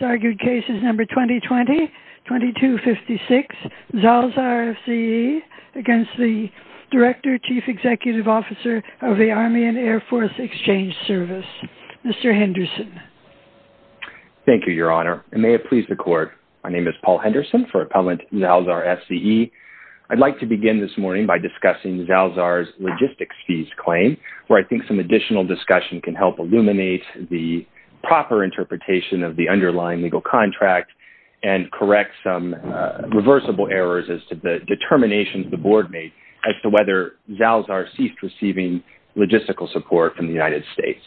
Argued Cases No. 2020-2256, Zalzar FZE v. Director, Chief Executive Officer of the Army and Air Force Exchange Service, Mr. Henderson. Thank you, Your Honor. And may it please the Court, my name is Paul Henderson for Appellant Zalzar FZE. I'd like to begin this morning by discussing Zalzar's logistics fees claim, where I think some additional discussion can help illuminate the proper interpretation of the underlying legal contract and correct some reversible errors as to the determinations the Board made as to whether Zalzar ceased receiving logistical support from the United States.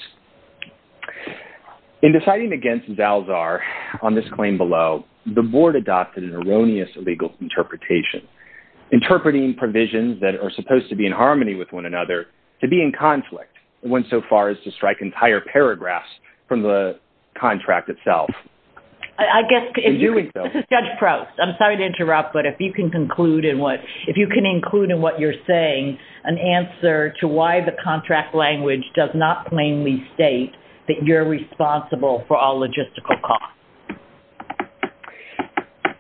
In deciding against Zalzar on this claim below, the Board adopted an erroneous legal interpretation, interpreting provisions that are supposed to be in harmony with one another to be in conflict when so far as to strike entire paragraphs from the contract itself. I guess if you would, Judge Proust, I'm sorry to interrupt, but if you can conclude in what if you can include in what you're saying, an answer to why the contract language does not plainly state that you're responsible for all logistical costs.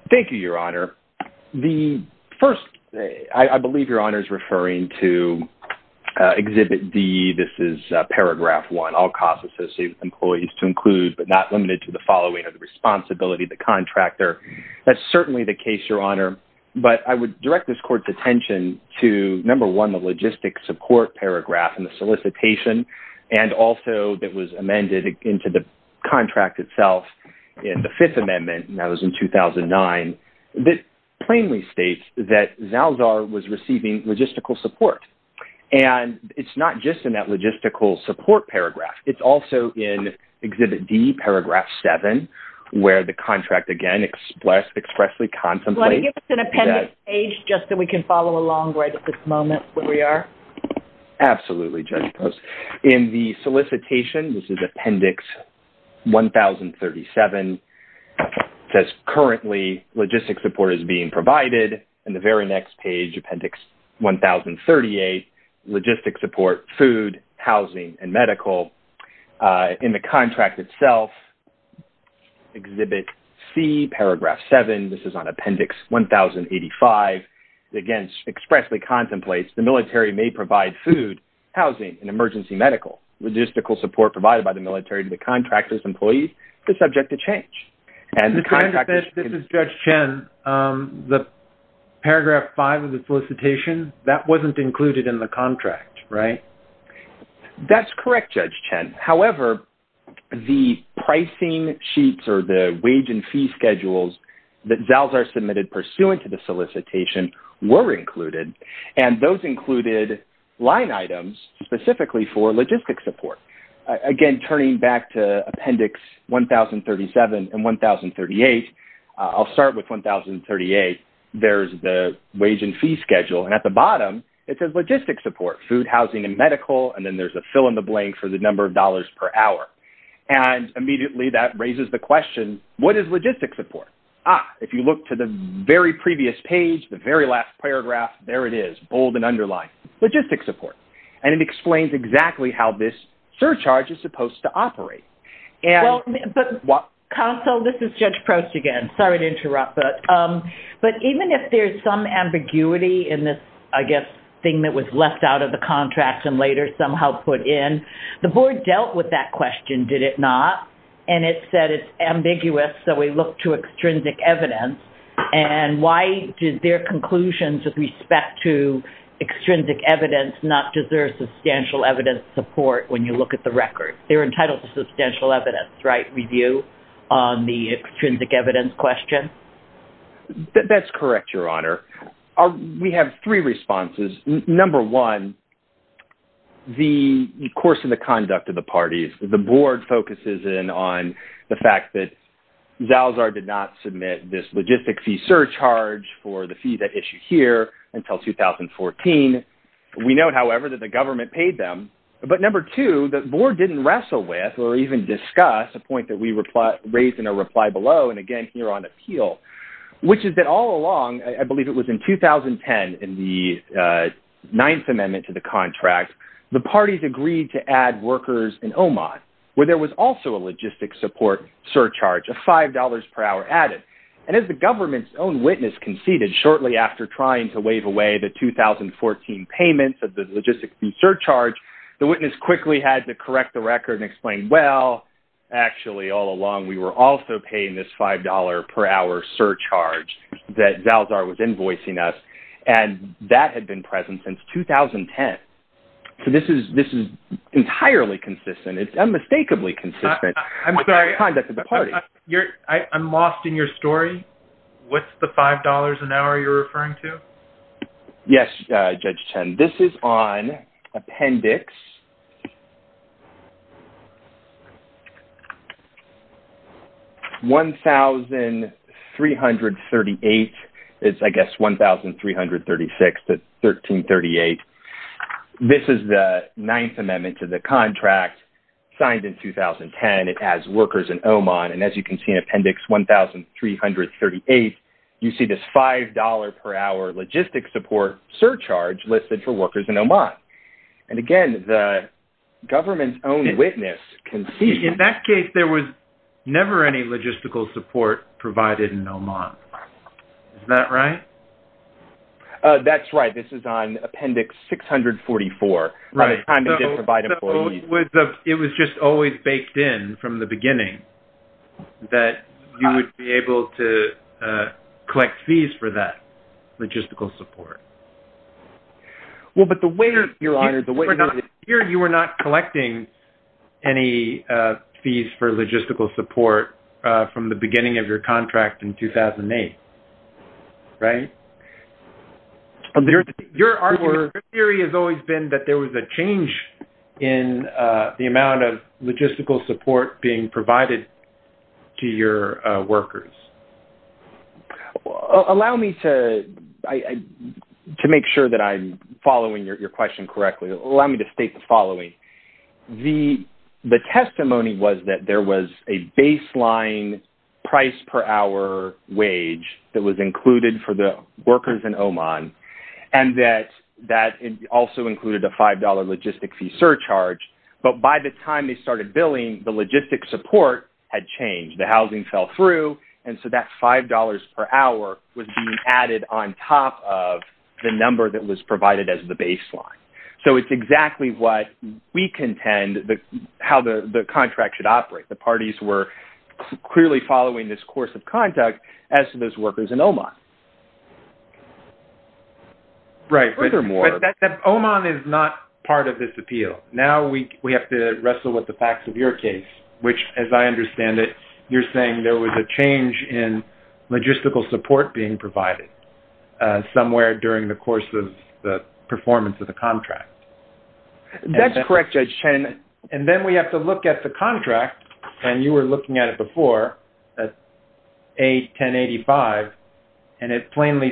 Thank you, Your Honor. The first, I believe Your Honor is referring to Exhibit D, this is Paragraph 1, all costs associated with employees to include but not limited to the following are the responsibility of the contractor. That's certainly the case, Your Honor. But I would direct this Court's attention to, number one, the logistic support paragraph in the solicitation, and also that was amended into the contract itself in the Fifth Amendment and that was in 2009, that plainly states that Zalzar was receiving logistical support. And it's not just in that logistical support paragraph. It's also in Exhibit D, Paragraph 7, where the contract, again, expressly contemplates Let me give us an appendix page just so we can follow along right at this moment where we are. Absolutely, Judge Proust. In the solicitation, this is Appendix 1037, it says, Currently, logistic support is being provided. In the very next page, Appendix 1038, logistic support, food, housing, and medical. In the contract itself, Exhibit C, Paragraph 7, this is on Appendix 1085, again, expressly includes food, housing, and emergency medical. Logistical support provided by the military to the contractors and employees is subject to change. And the contractors... This is Judge Chen. The Paragraph 5 of the solicitation, that wasn't included in the contract, right? That's correct, Judge Chen. However, the pricing sheets or the wage and fee schedules that Zalzar submitted pursuant to the solicitation were included, and those included line items specifically for logistic support. Again, turning back to Appendix 1037 and 1038, I'll start with 1038. There's the wage and fee schedule, and at the bottom, it says logistic support, food, housing, and medical, and then there's a fill-in-the-blank for the number of dollars per hour. And immediately, that raises the question, what is logistic support? Ah, if you look to the very previous page, the very last paragraph, there it is, bold and underlined, logistic support. And it explains exactly how this surcharge is supposed to operate. And... Well, but... Counsel, this is Judge Prost again. Sorry to interrupt, but even if there's some ambiguity in this, I guess, thing that was left out of the contract and later somehow put in, the board dealt with that question, did it not? And it said it's ambiguous, so we look to extrinsic evidence, and why did their conclusions with respect to extrinsic evidence not deserve substantial evidence support when you look at the record? They're entitled to substantial evidence, right, review on the extrinsic evidence question? That's correct, Your Honor. We have three responses. Number one, the course of the conduct of the parties. The board focuses in on the fact that Zalzar did not submit this logistic fee surcharge for the fee that issued here until 2014. We note, however, that the government paid them. But number two, the board didn't wrestle with or even discuss a point that we raised in a reply below, and again, here on appeal, which is that all along, I believe it was in 2010, in the Ninth Amendment to the contract, the parties agreed to add workers in Oman, where there was also a logistic support surcharge of $5 per hour added, and as the government's own witness conceded shortly after trying to waive away the 2014 payments of the logistic fee surcharge, the witness quickly had to correct the record and explain, well, actually all along, we were also paying this $5 per hour surcharge that Zalzar was invoicing us, and that had been present since 2010. So this is entirely consistent. It's unmistakably consistent with the conduct of the parties. I'm lost in your story. What's the $5 an hour you're referring to? Yes, Judge Chen. This is on Appendix 1338. It's, I guess, 1336 to 1338. This is the Ninth Amendment to the contract signed in 2010. It adds workers in Oman, and as you can see in Appendix 1338, you see this $5 per hour logistic support surcharge listed for workers in Oman. And again, the government's own witness conceded... In that case, there was never any logistical support provided in Oman. Is that right? That's right. This is on Appendix 644. Right. By the time they did provide employees... It was just always baked in from the beginning that you would be able to collect fees for that logistical support. Well, but the way... Your Honor, the way... Here, you were not collecting any fees for logistical support from the beginning of your contract in 2008, right? Your argument, your theory has always been that there was a change in the amount of logistical support being provided to your workers. Well, allow me to make sure that I'm following your question correctly. Allow me to state the following. The testimony was that there was a baseline price per hour wage that was included for the workers in Oman, and that it also included a $5 logistic fee surcharge. But by the time they started billing, the logistic support had changed. The housing fell through, and so that $5 per hour was being added on top of the number that was provided as the baseline. So it's exactly what we contend how the contract should operate. The parties were clearly following this course of conduct as to those workers in Oman. Right. Furthermore... But Oman is not part of this appeal. Now we have to wrestle with the facts of your case, which, as I understand it, you're saying there was a change in logistical support being provided somewhere during the course of the performance of the contract. That's correct, Judge Chen. And then we have to look at the contract, and you were looking at it before, at A1085, and it plainly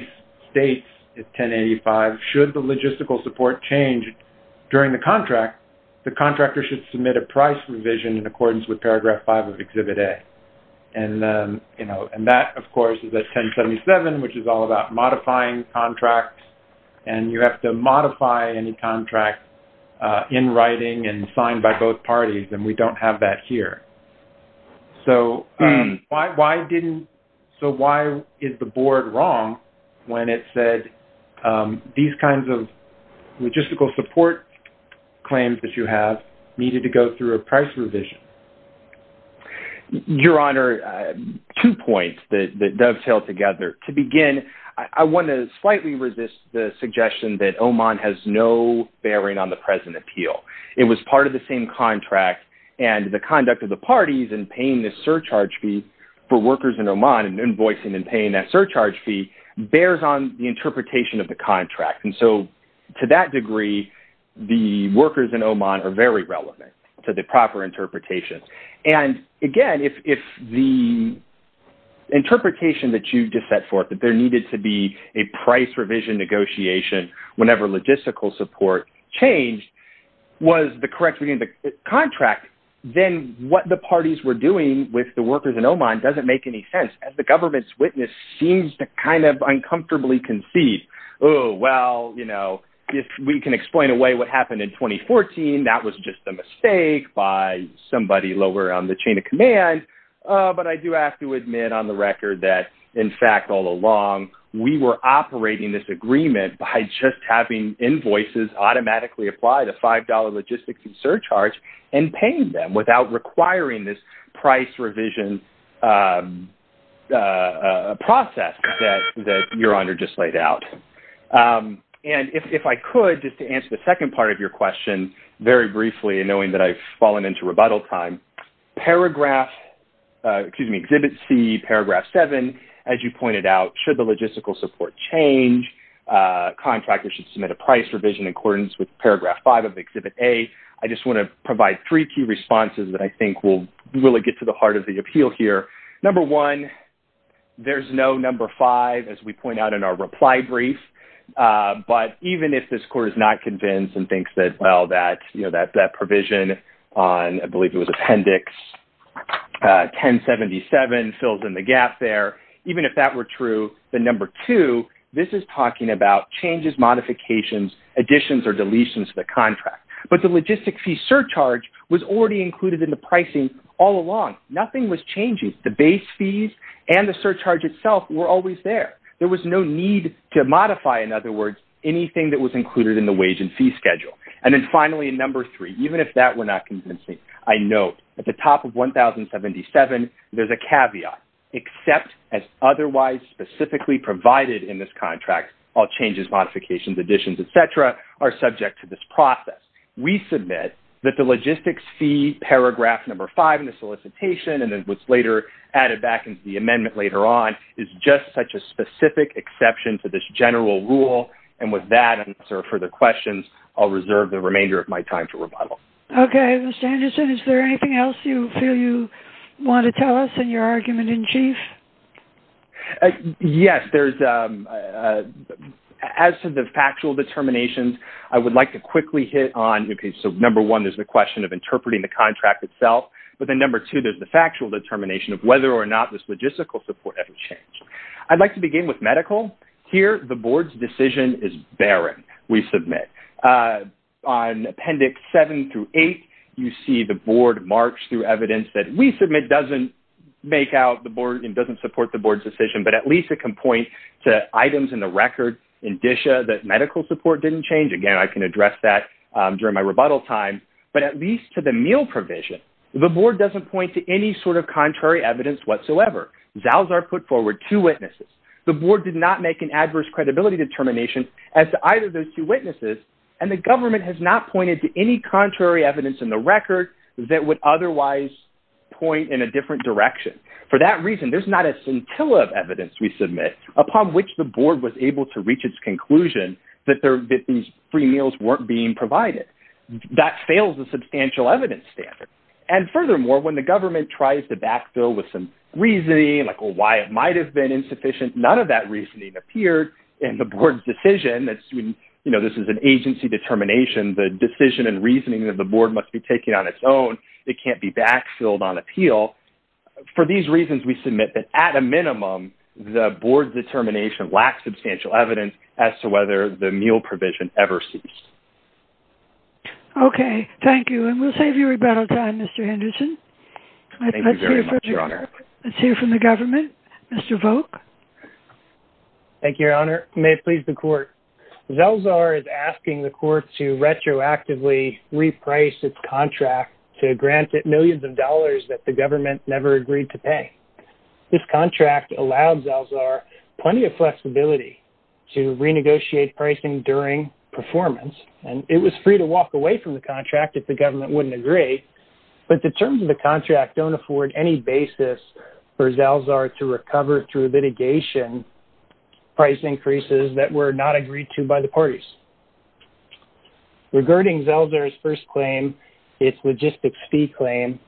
states at A1085, should the logistical support change during the contract, the contractor should submit a price revision in accordance with paragraph 5 of Exhibit A. And that, of course, is at A1077, which is all about modifying contracts, and you have to modify any contract in writing and signed by both parties, and we don't have that here. So, why is the board wrong when it said these kinds of logistical support claims that you have needed to go through a price revision? Your Honor, two points that dovetail together. To begin, I want to slightly resist the suggestion that Oman has no bearing on the present appeal. It was part of the same contract, and the conduct of the parties in paying this surcharge fee for workers in Oman, and invoicing and paying that surcharge fee, bears on the interpretation of the contract. And so, to that degree, the workers in Oman are very relevant to the proper interpretation. And again, if the interpretation that you just set forth, that there needed to be a logistical support change, was the correct reading of the contract, then what the parties were doing with the workers in Oman doesn't make any sense, as the government's witness seems to kind of uncomfortably concede. Oh, well, you know, if we can explain away what happened in 2014, that was just a mistake by somebody lower on the chain of command. But I do have to admit on the record that, in fact, all along, we were operating this automatically apply the $5 logistics and surcharge, and paying them without requiring this price revision process that Your Honor just laid out. And if I could, just to answer the second part of your question, very briefly, knowing that I've fallen into rebuttal time, Paragraph, excuse me, Exhibit C, Paragraph 7, as you with Paragraph 5 of Exhibit A, I just want to provide three key responses that I think will really get to the heart of the appeal here. Number one, there's no number five, as we point out in our reply brief. But even if this Court is not convinced and thinks that, well, that provision on, I believe it was Appendix 1077 fills in the gap there, even if that were true, the number two, this is talking about changes, modifications, additions, or deletions to the contract. But the logistic fee surcharge was already included in the pricing all along. Nothing was changing. The base fees and the surcharge itself were always there. There was no need to modify, in other words, anything that was included in the wage and fee schedule. And then, finally, in number three, even if that were not convincing, I note at the top of 1077, there's a caveat. Except as otherwise specifically provided in this contract, all changes, modifications, additions, et cetera, are subject to this process. We submit that the logistics fee, Paragraph 5 in the solicitation, and it was later added back into the amendment later on, is just such a specific exception to this general rule. And with that answer for the questions, I'll reserve the remainder of my time for rebuttal. Okay. Mr. Anderson, is there anything else you feel you want to tell us in your argument in chief? Yes. As to the factual determinations, I would like to quickly hit on, okay, so number one, there's the question of interpreting the contract itself. But then number two, there's the factual determination of whether or not this logistical support ever changed. I'd like to begin with medical. Here, the board's decision is barren, we submit. On Appendix 7 through 8, you see the board march through evidence that we submit doesn't make out the board and doesn't support the board's decision. But at least it can point to items in the record in DSHA that medical support didn't change. Again, I can address that during my rebuttal time. But at least to the meal provision, the board doesn't point to any sort of contrary evidence whatsoever. ZALs are put forward to witnesses. The board did not make an adverse credibility determination as to either of those two witnesses, and the government has not pointed to any contrary evidence in the record that would otherwise point in a different direction. For that reason, there's not a scintilla of evidence we submit upon which the board was able to reach its conclusion that these free meals weren't being provided. That fails the substantial evidence standard. And furthermore, when the government tries to backfill with some reasoning, like why it might have been insufficient, none of that reasoning appeared. And the board's decision, you know, this is an agency determination. The decision and reasoning of the board must be taken on its own. It can't be backfilled on appeal. For these reasons, we submit that at a minimum, the board's determination lacks substantial evidence as to whether the meal provision ever ceased. Okay. Thank you. And we'll save you rebuttal time, Mr. Henderson. Thank you very much, Your Honor. Let's hear from the government. Mr. Volk. Thank you, Your Honor. May it please the court. Zalzar is asking the court to retroactively reprice its contract to grant it millions of dollars that the government never agreed to pay. This contract allowed Zalzar plenty of flexibility to renegotiate pricing during performance, and it was free to walk away from the contract if the government wouldn't agree. But the terms of the contract don't afford any basis for Zalzar to recover through litigation price increases that were not agreed to by the parties. Regarding Zalzar's first claim, its logistics fee claim,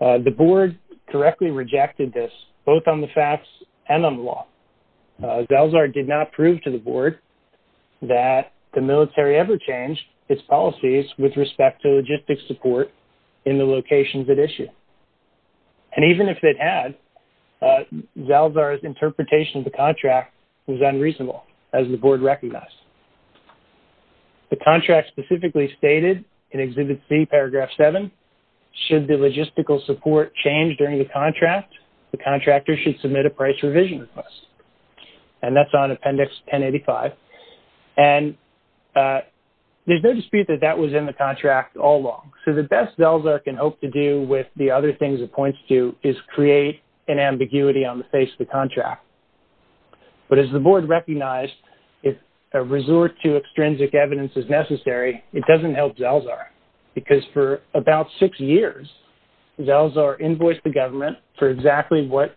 the board correctly rejected this, both on the facts and on the law. Zalzar did not prove to the board that the military ever changed its policies with respect to logistics support in the locations it issued. And even if it had, Zalzar's interpretation of the contract was unreasonable, as the board recognized. The contract specifically stated in Exhibit C, Paragraph 7, should the logistical support change during the contract, the contractor should submit a price revision request. And that's on Appendix 1085. And there's no dispute that that was in the contract all along. So the best Zalzar can hope to do with the other things it points to is create an ambiguity on the face of the contract. But as the board recognized, if a resort to extrinsic evidence is necessary, it doesn't help Zalzar. Because for about six years, Zalzar invoiced the government for exactly what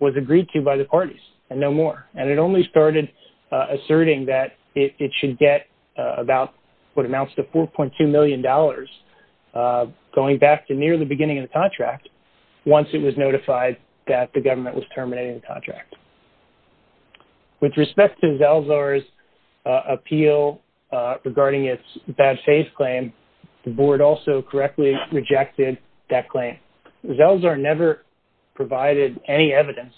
was agreed to by the parties, and no more. And it only started asserting that it should get about what amounts to $4.2 million, going back to near the beginning of the contract, once it was notified that the government was terminating the contract. With respect to Zalzar's appeal regarding its bad faith claim, the board also correctly rejected that claim. Zalzar never provided any evidence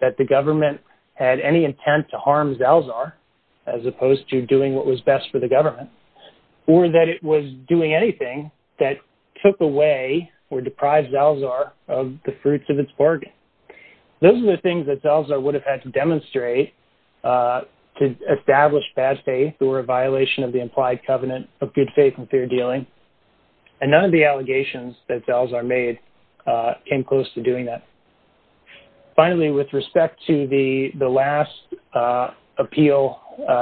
that the government had any intent to harm Zalzar, as opposed to doing what was best for the government, or that it was doing anything that took away or deprived Zalzar of the fruits of its bargain. Those are the things that Zalzar would have had to demonstrate to establish bad faith or a violation of the implied covenant of good faith and fair dealing. And none of the allegations that Zalzar made came close to doing that. Finally, with respect to the last appeal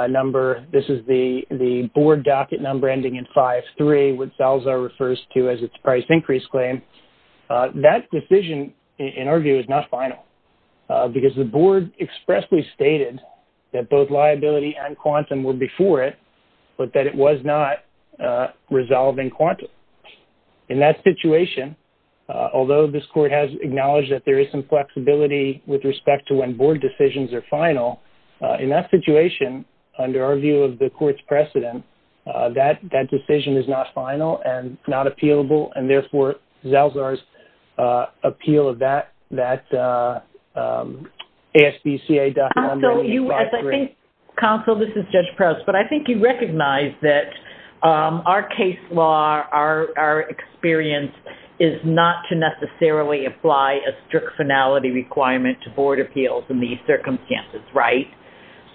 number, this is the board docket number ending in 5-3, which Zalzar refers to as its price increase claim. That decision, in our view, is not final, because the board expressly stated that both In that situation, although this court has acknowledged that there is some flexibility with respect to when board decisions are final, in that situation, under our view of the court's precedent, that decision is not final and not appealable, and therefore, Zalzar's appeal of that ASBCA docket number ending in 5-3. Counsel, this is Judge Prost. But I think you recognize that our case law, our experience, is not to necessarily apply a strict finality requirement to board appeals in these circumstances, right?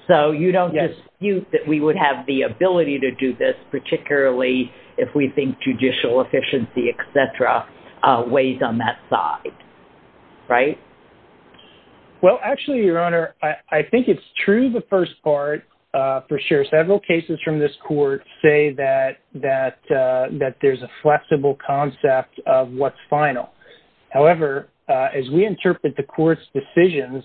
So you don't dispute that we would have the ability to do this, particularly if we think judicial efficiency, et cetera, weighs on that side, right? Well, actually, Your Honor, I think it's true the first part for sure. Several cases from this court say that there's a flexible concept of what's final. However, as we interpret the court's decisions,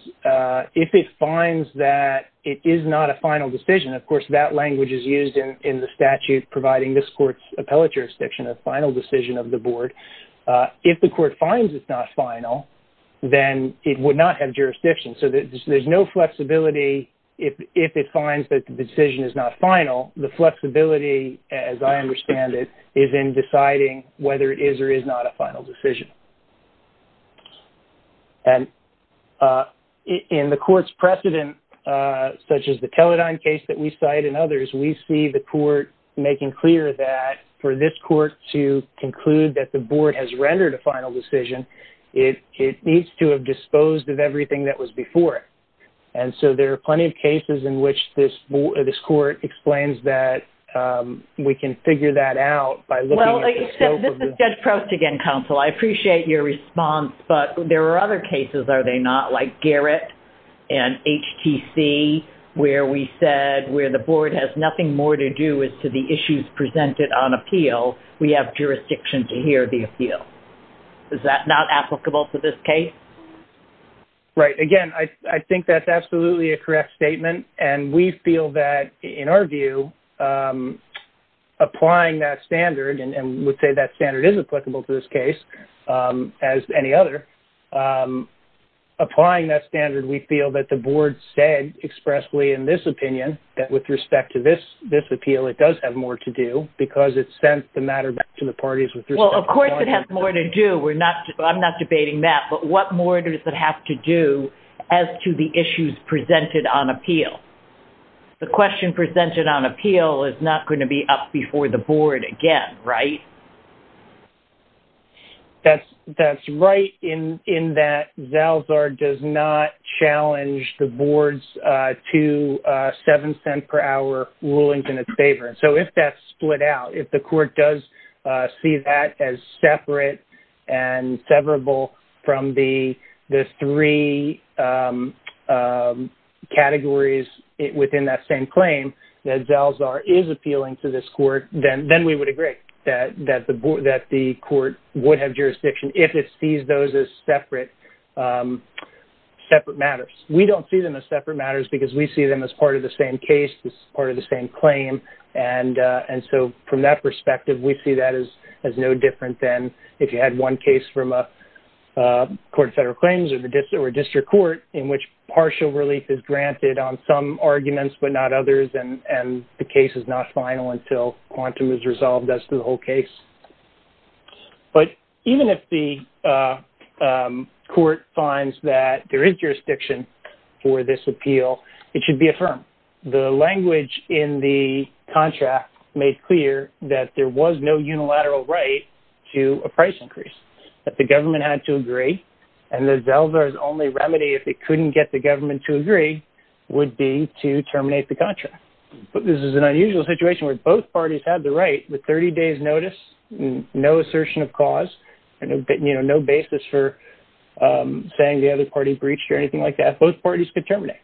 if it finds that it is not a final decision, of course, that language is used in the statute providing this court's appellate jurisdiction of final decision of the board. If the court finds it's not final, then it would not have jurisdiction. So there's no flexibility. If it finds that the decision is not final, the flexibility, as I understand it, is in deciding whether it is or is not a final decision. And in the court's precedent, such as the Teledyne case that we cite and others, we see the court making clear that for this court to conclude that the board has rendered a final decision, it needs to have disposed of everything that was before it. And so there are plenty of cases in which this court explains that we can figure that out by looking at the scope of the... Well, Judge Prost, again, counsel, I appreciate your response, but there are other cases, are they not, like Garrett and HTC, where we said where the board has nothing more to do as to the issues presented on appeal, we have jurisdiction to hear the appeal. Is that not applicable to this case? Right. Again, I think that's absolutely a correct statement. And we feel that, in our view, applying that standard, and we would say that standard is applicable to this case as any other. Applying that standard, we feel that the board said expressly in this opinion that with respect to this appeal, it does have more to do because it sent the matter back to the parties with respect to... Well, of course it has more to do. We're not... I'm not debating that. But what more does it have to do as to the issues presented on appeal? The question presented on appeal is not going to be up before the board again, right? That's right, in that Zalzar does not challenge the board's two 7-cent-per-hour rulings in its favor. And so if that's split out, if the court does see that as separate and severable from the three categories within that same claim, that Zalzar is appealing to this court, then we would agree that the court would have jurisdiction if it sees those as separate matters. We don't see them as separate matters because we see them as part of the same case, as part of the same claim. And so from that perspective, we see that as no different than if you had one case from a court of federal claims or a district court in which partial relief is granted on some But even if the court finds that there is jurisdiction for this appeal, it should be affirmed. The language in the contract made clear that there was no unilateral right to a price increase, that the government had to agree, and that Zalzar's only remedy if it couldn't get the government to agree would be to terminate the contract. But this is an unusual situation where both parties had the right with 30 days notice, no assertion of cause, and no basis for saying the other party breached or anything like that, both parties could terminate.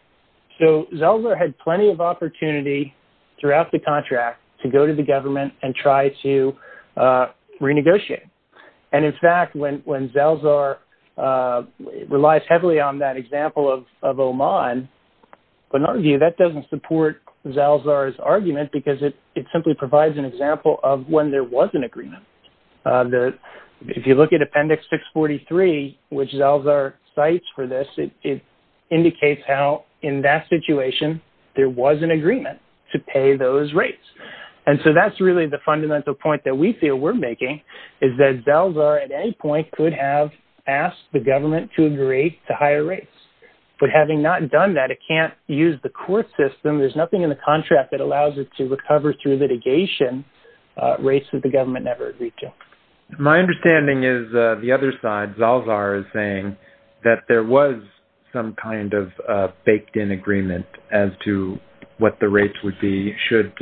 So Zalzar had plenty of opportunity throughout the contract to go to the government and try to renegotiate. And in fact, when Zalzar relies heavily on that example of Oman, in our view, that doesn't support Zalzar's argument, because it simply provides an example of when there was an agreement. If you look at Appendix 643, which Zalzar cites for this, it indicates how in that situation there was an agreement to pay those rates. And so that's really the fundamental point that we feel we're making, is that Zalzar at any point could have asked the government to agree to higher rates. But having not done that, it can't use the court system. There's nothing in the contract that allows it to recover through litigation rates that the government never agreed to. My understanding is the other side, Zalzar is saying that there was some kind of baked in agreement as to what the rates would be should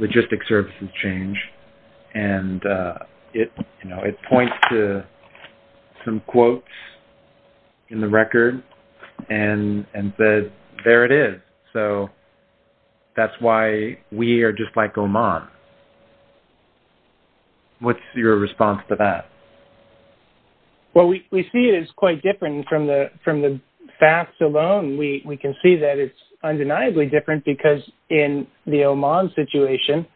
logistic services change. And it points to some quotes in the record and says, there it is. So that's why we are just like Oman. What's your response to that? Well, we see it as quite different. From the facts alone, we can see that it's undeniably different, because in the Oman situation,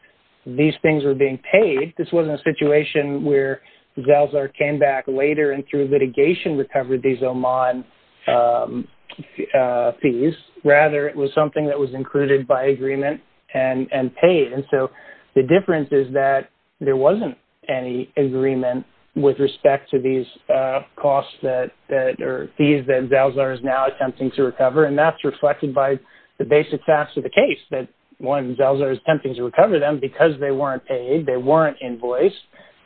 these things were being paid. This wasn't a situation where Zalzar came back later and through litigation recovered these Oman fees. Rather, it was something that was included by agreement and paid. And so the difference is that there wasn't any agreement with respect to these costs And that's reflected by the basic facts of the case. That one, Zalzar is attempting to recover them because they weren't paid. They weren't invoiced.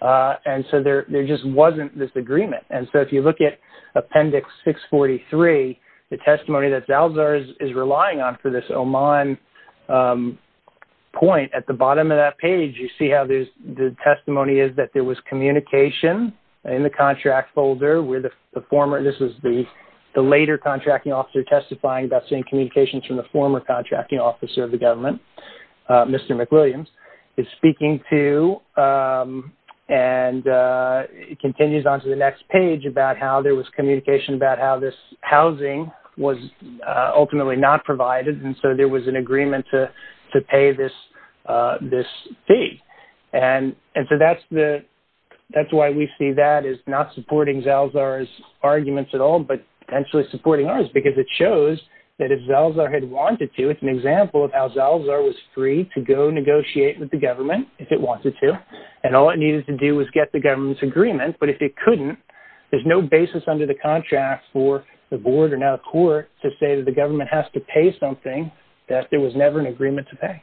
And so there just wasn't this agreement. And so if you look at Appendix 643, the testimony that Zalzar is relying on for this Oman point, at the bottom of that page, you see how the testimony is that there was communication in the contract folder where the former, this was the later contracting officer testifying about seeing communications from the former contracting officer of the government, Mr. McWilliams, is speaking to and continues on to the next page about how there was communication about how this housing was ultimately not provided. And so there was an agreement to pay this fee. And so that's why we see that as not supporting Zalzar's arguments at all, but actually supporting ours, because it shows that if Zalzar had wanted to, it's an example of how Zalzar was free to go negotiate with the government if it wanted to, and all it needed to do was get the government's agreement. But if it couldn't, there's no basis under the contract for the board or now the court to say that the government has to pay something that there was never an agreement to pay.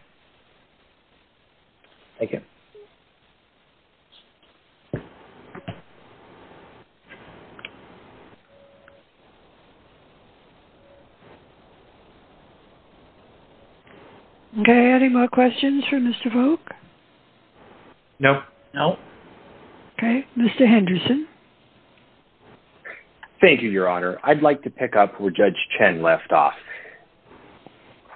Thank you. Okay. Any more questions for Mr. Volk? No. No. Okay. Mr. Henderson. Thank you, Your Honor. I'd like to pick up where Judge Chen left off.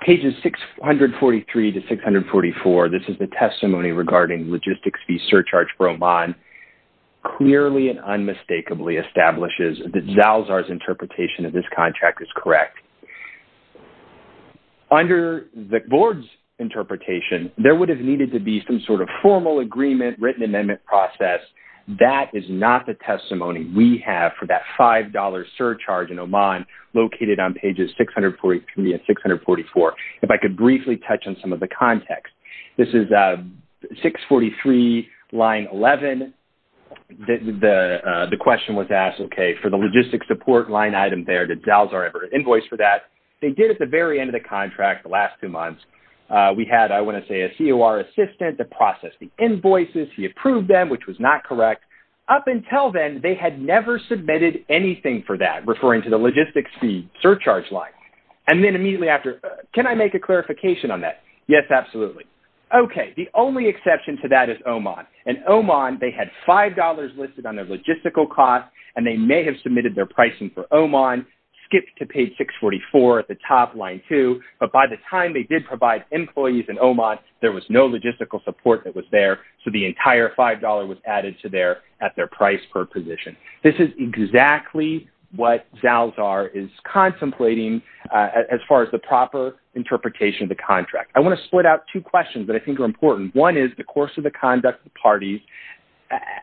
Pages 643 to 644, this is the testimony regarding logistics fee surcharge for Oman, clearly and unmistakably establishes that Zalzar's interpretation of this contract is correct. Under the board's interpretation, there would have needed to be some sort of formal agreement, written amendment process. That is not the testimony we have for that $5 surcharge in Oman located on pages 643 and 644. If I could briefly touch on some of the context. This is 643, line 11. The question was asked, okay, for the logistics support line item there, did Zalzar ever invoice for that? They did at the very end of the contract, the last two months. We had, I want to say, a COR assistant that processed the invoices. He approved them, which was not correct. Up until then, they had never submitted anything for that, referring to the logistics fee surcharge line. And then immediately after, can I make a clarification on that? Yes, absolutely. Okay, the only exception to that is Oman. In Oman, they had $5 listed on their logistical costs, and they may have submitted their pricing for Oman, skipped to page 644 at the top, line 2, but by the time they did provide employees in Oman, there was no logistical support that was there, so the entire $5 was added to there at their price per position. This is exactly what Zalzar is contemplating as far as the proper interpretation of the contract. I want to split out two questions that I think are important. One is the course of the conduct of the parties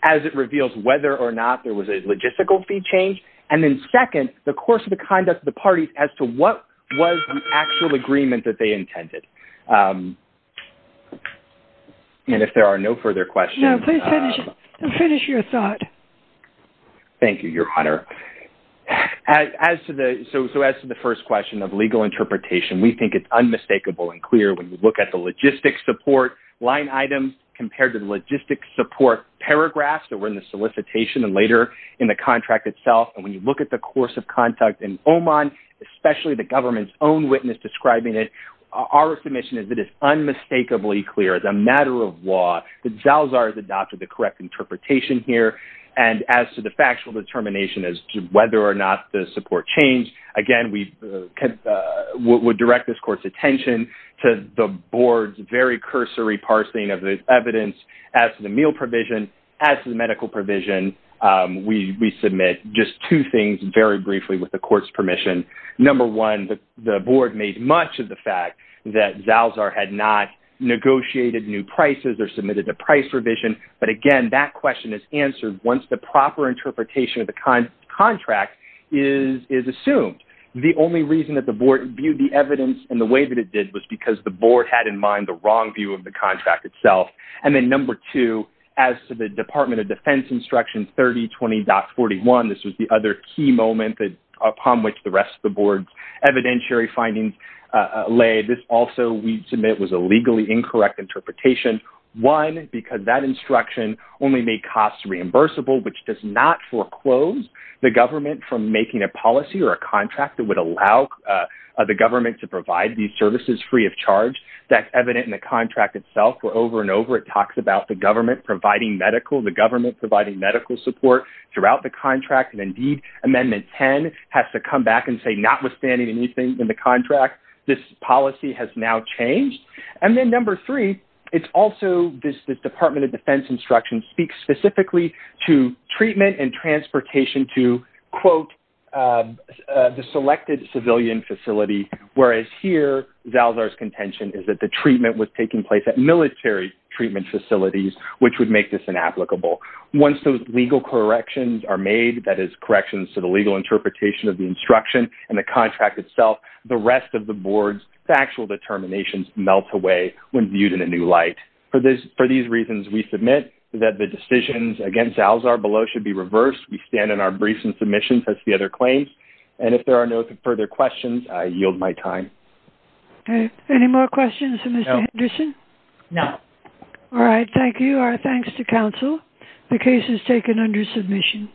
as it reveals whether or not there was a logistical fee change, and then second, the course of the conduct of the parties as to what was the actual agreement that they intended. And if there are no further questions. No, please finish your thought. Thank you, Your Honor. So as to the first question of legal interpretation, we think it's unmistakable and clear when you look at the logistic support line items compared to the logistic support paragraphs that were in the solicitation and later in the contract itself. And when you look at the course of conduct in Oman, especially the government's own witness describing it, our submission is it is unmistakably clear as a matter of law that Zalzar has adopted the correct interpretation here. And as to the factual determination as to whether or not the support changed, again, we direct this court's attention to the board's very cursory parsing of the evidence as to the meal provision, as to the medical provision. We submit just two things very briefly with the court's permission. Number one, the board made much of the fact that Zalzar had not negotiated new prices or submitted a price revision. But again, that question is answered once the proper interpretation of the contract is assumed. The only reason that the board viewed the evidence in the way that it did was because the board had in mind the wrong view of the contract itself. And then number two, as to the Department of Defense Instruction 3020.41, this was the other key moment upon which the rest of the board's evidentiary findings lay. This also we submit was a legally incorrect interpretation. One, because that instruction only made costs reimbursable, which does not foreclose the government from making a policy or a contract that would allow the government to provide these services free of charge. That's evident in the contract itself where over and over it talks about the government providing medical, the government providing medical support throughout the contract. And indeed, Amendment 10 has to come back and say notwithstanding anything in the contract, this policy has now changed. And then number three, it's also this Department of Defense Instruction speaks specifically to treatment and transportation to, quote, the selected civilian facility, whereas here Zalzar's contention is that the treatment was taking place at military treatment facilities, which would make this inapplicable. Once those legal corrections are made, that is, corrections to the legal interpretation of the instruction and the contract itself, the rest of the board's factual determinations melt away when viewed in a new light. For these reasons, we submit that the decisions against Zalzar below should be reversed. We stand in our briefs and submissions as the other claims. And if there are no further questions, I yield my time. Any more questions for Mr. Henderson? No. All right, thank you. Our thanks to counsel. The case is taken under submission.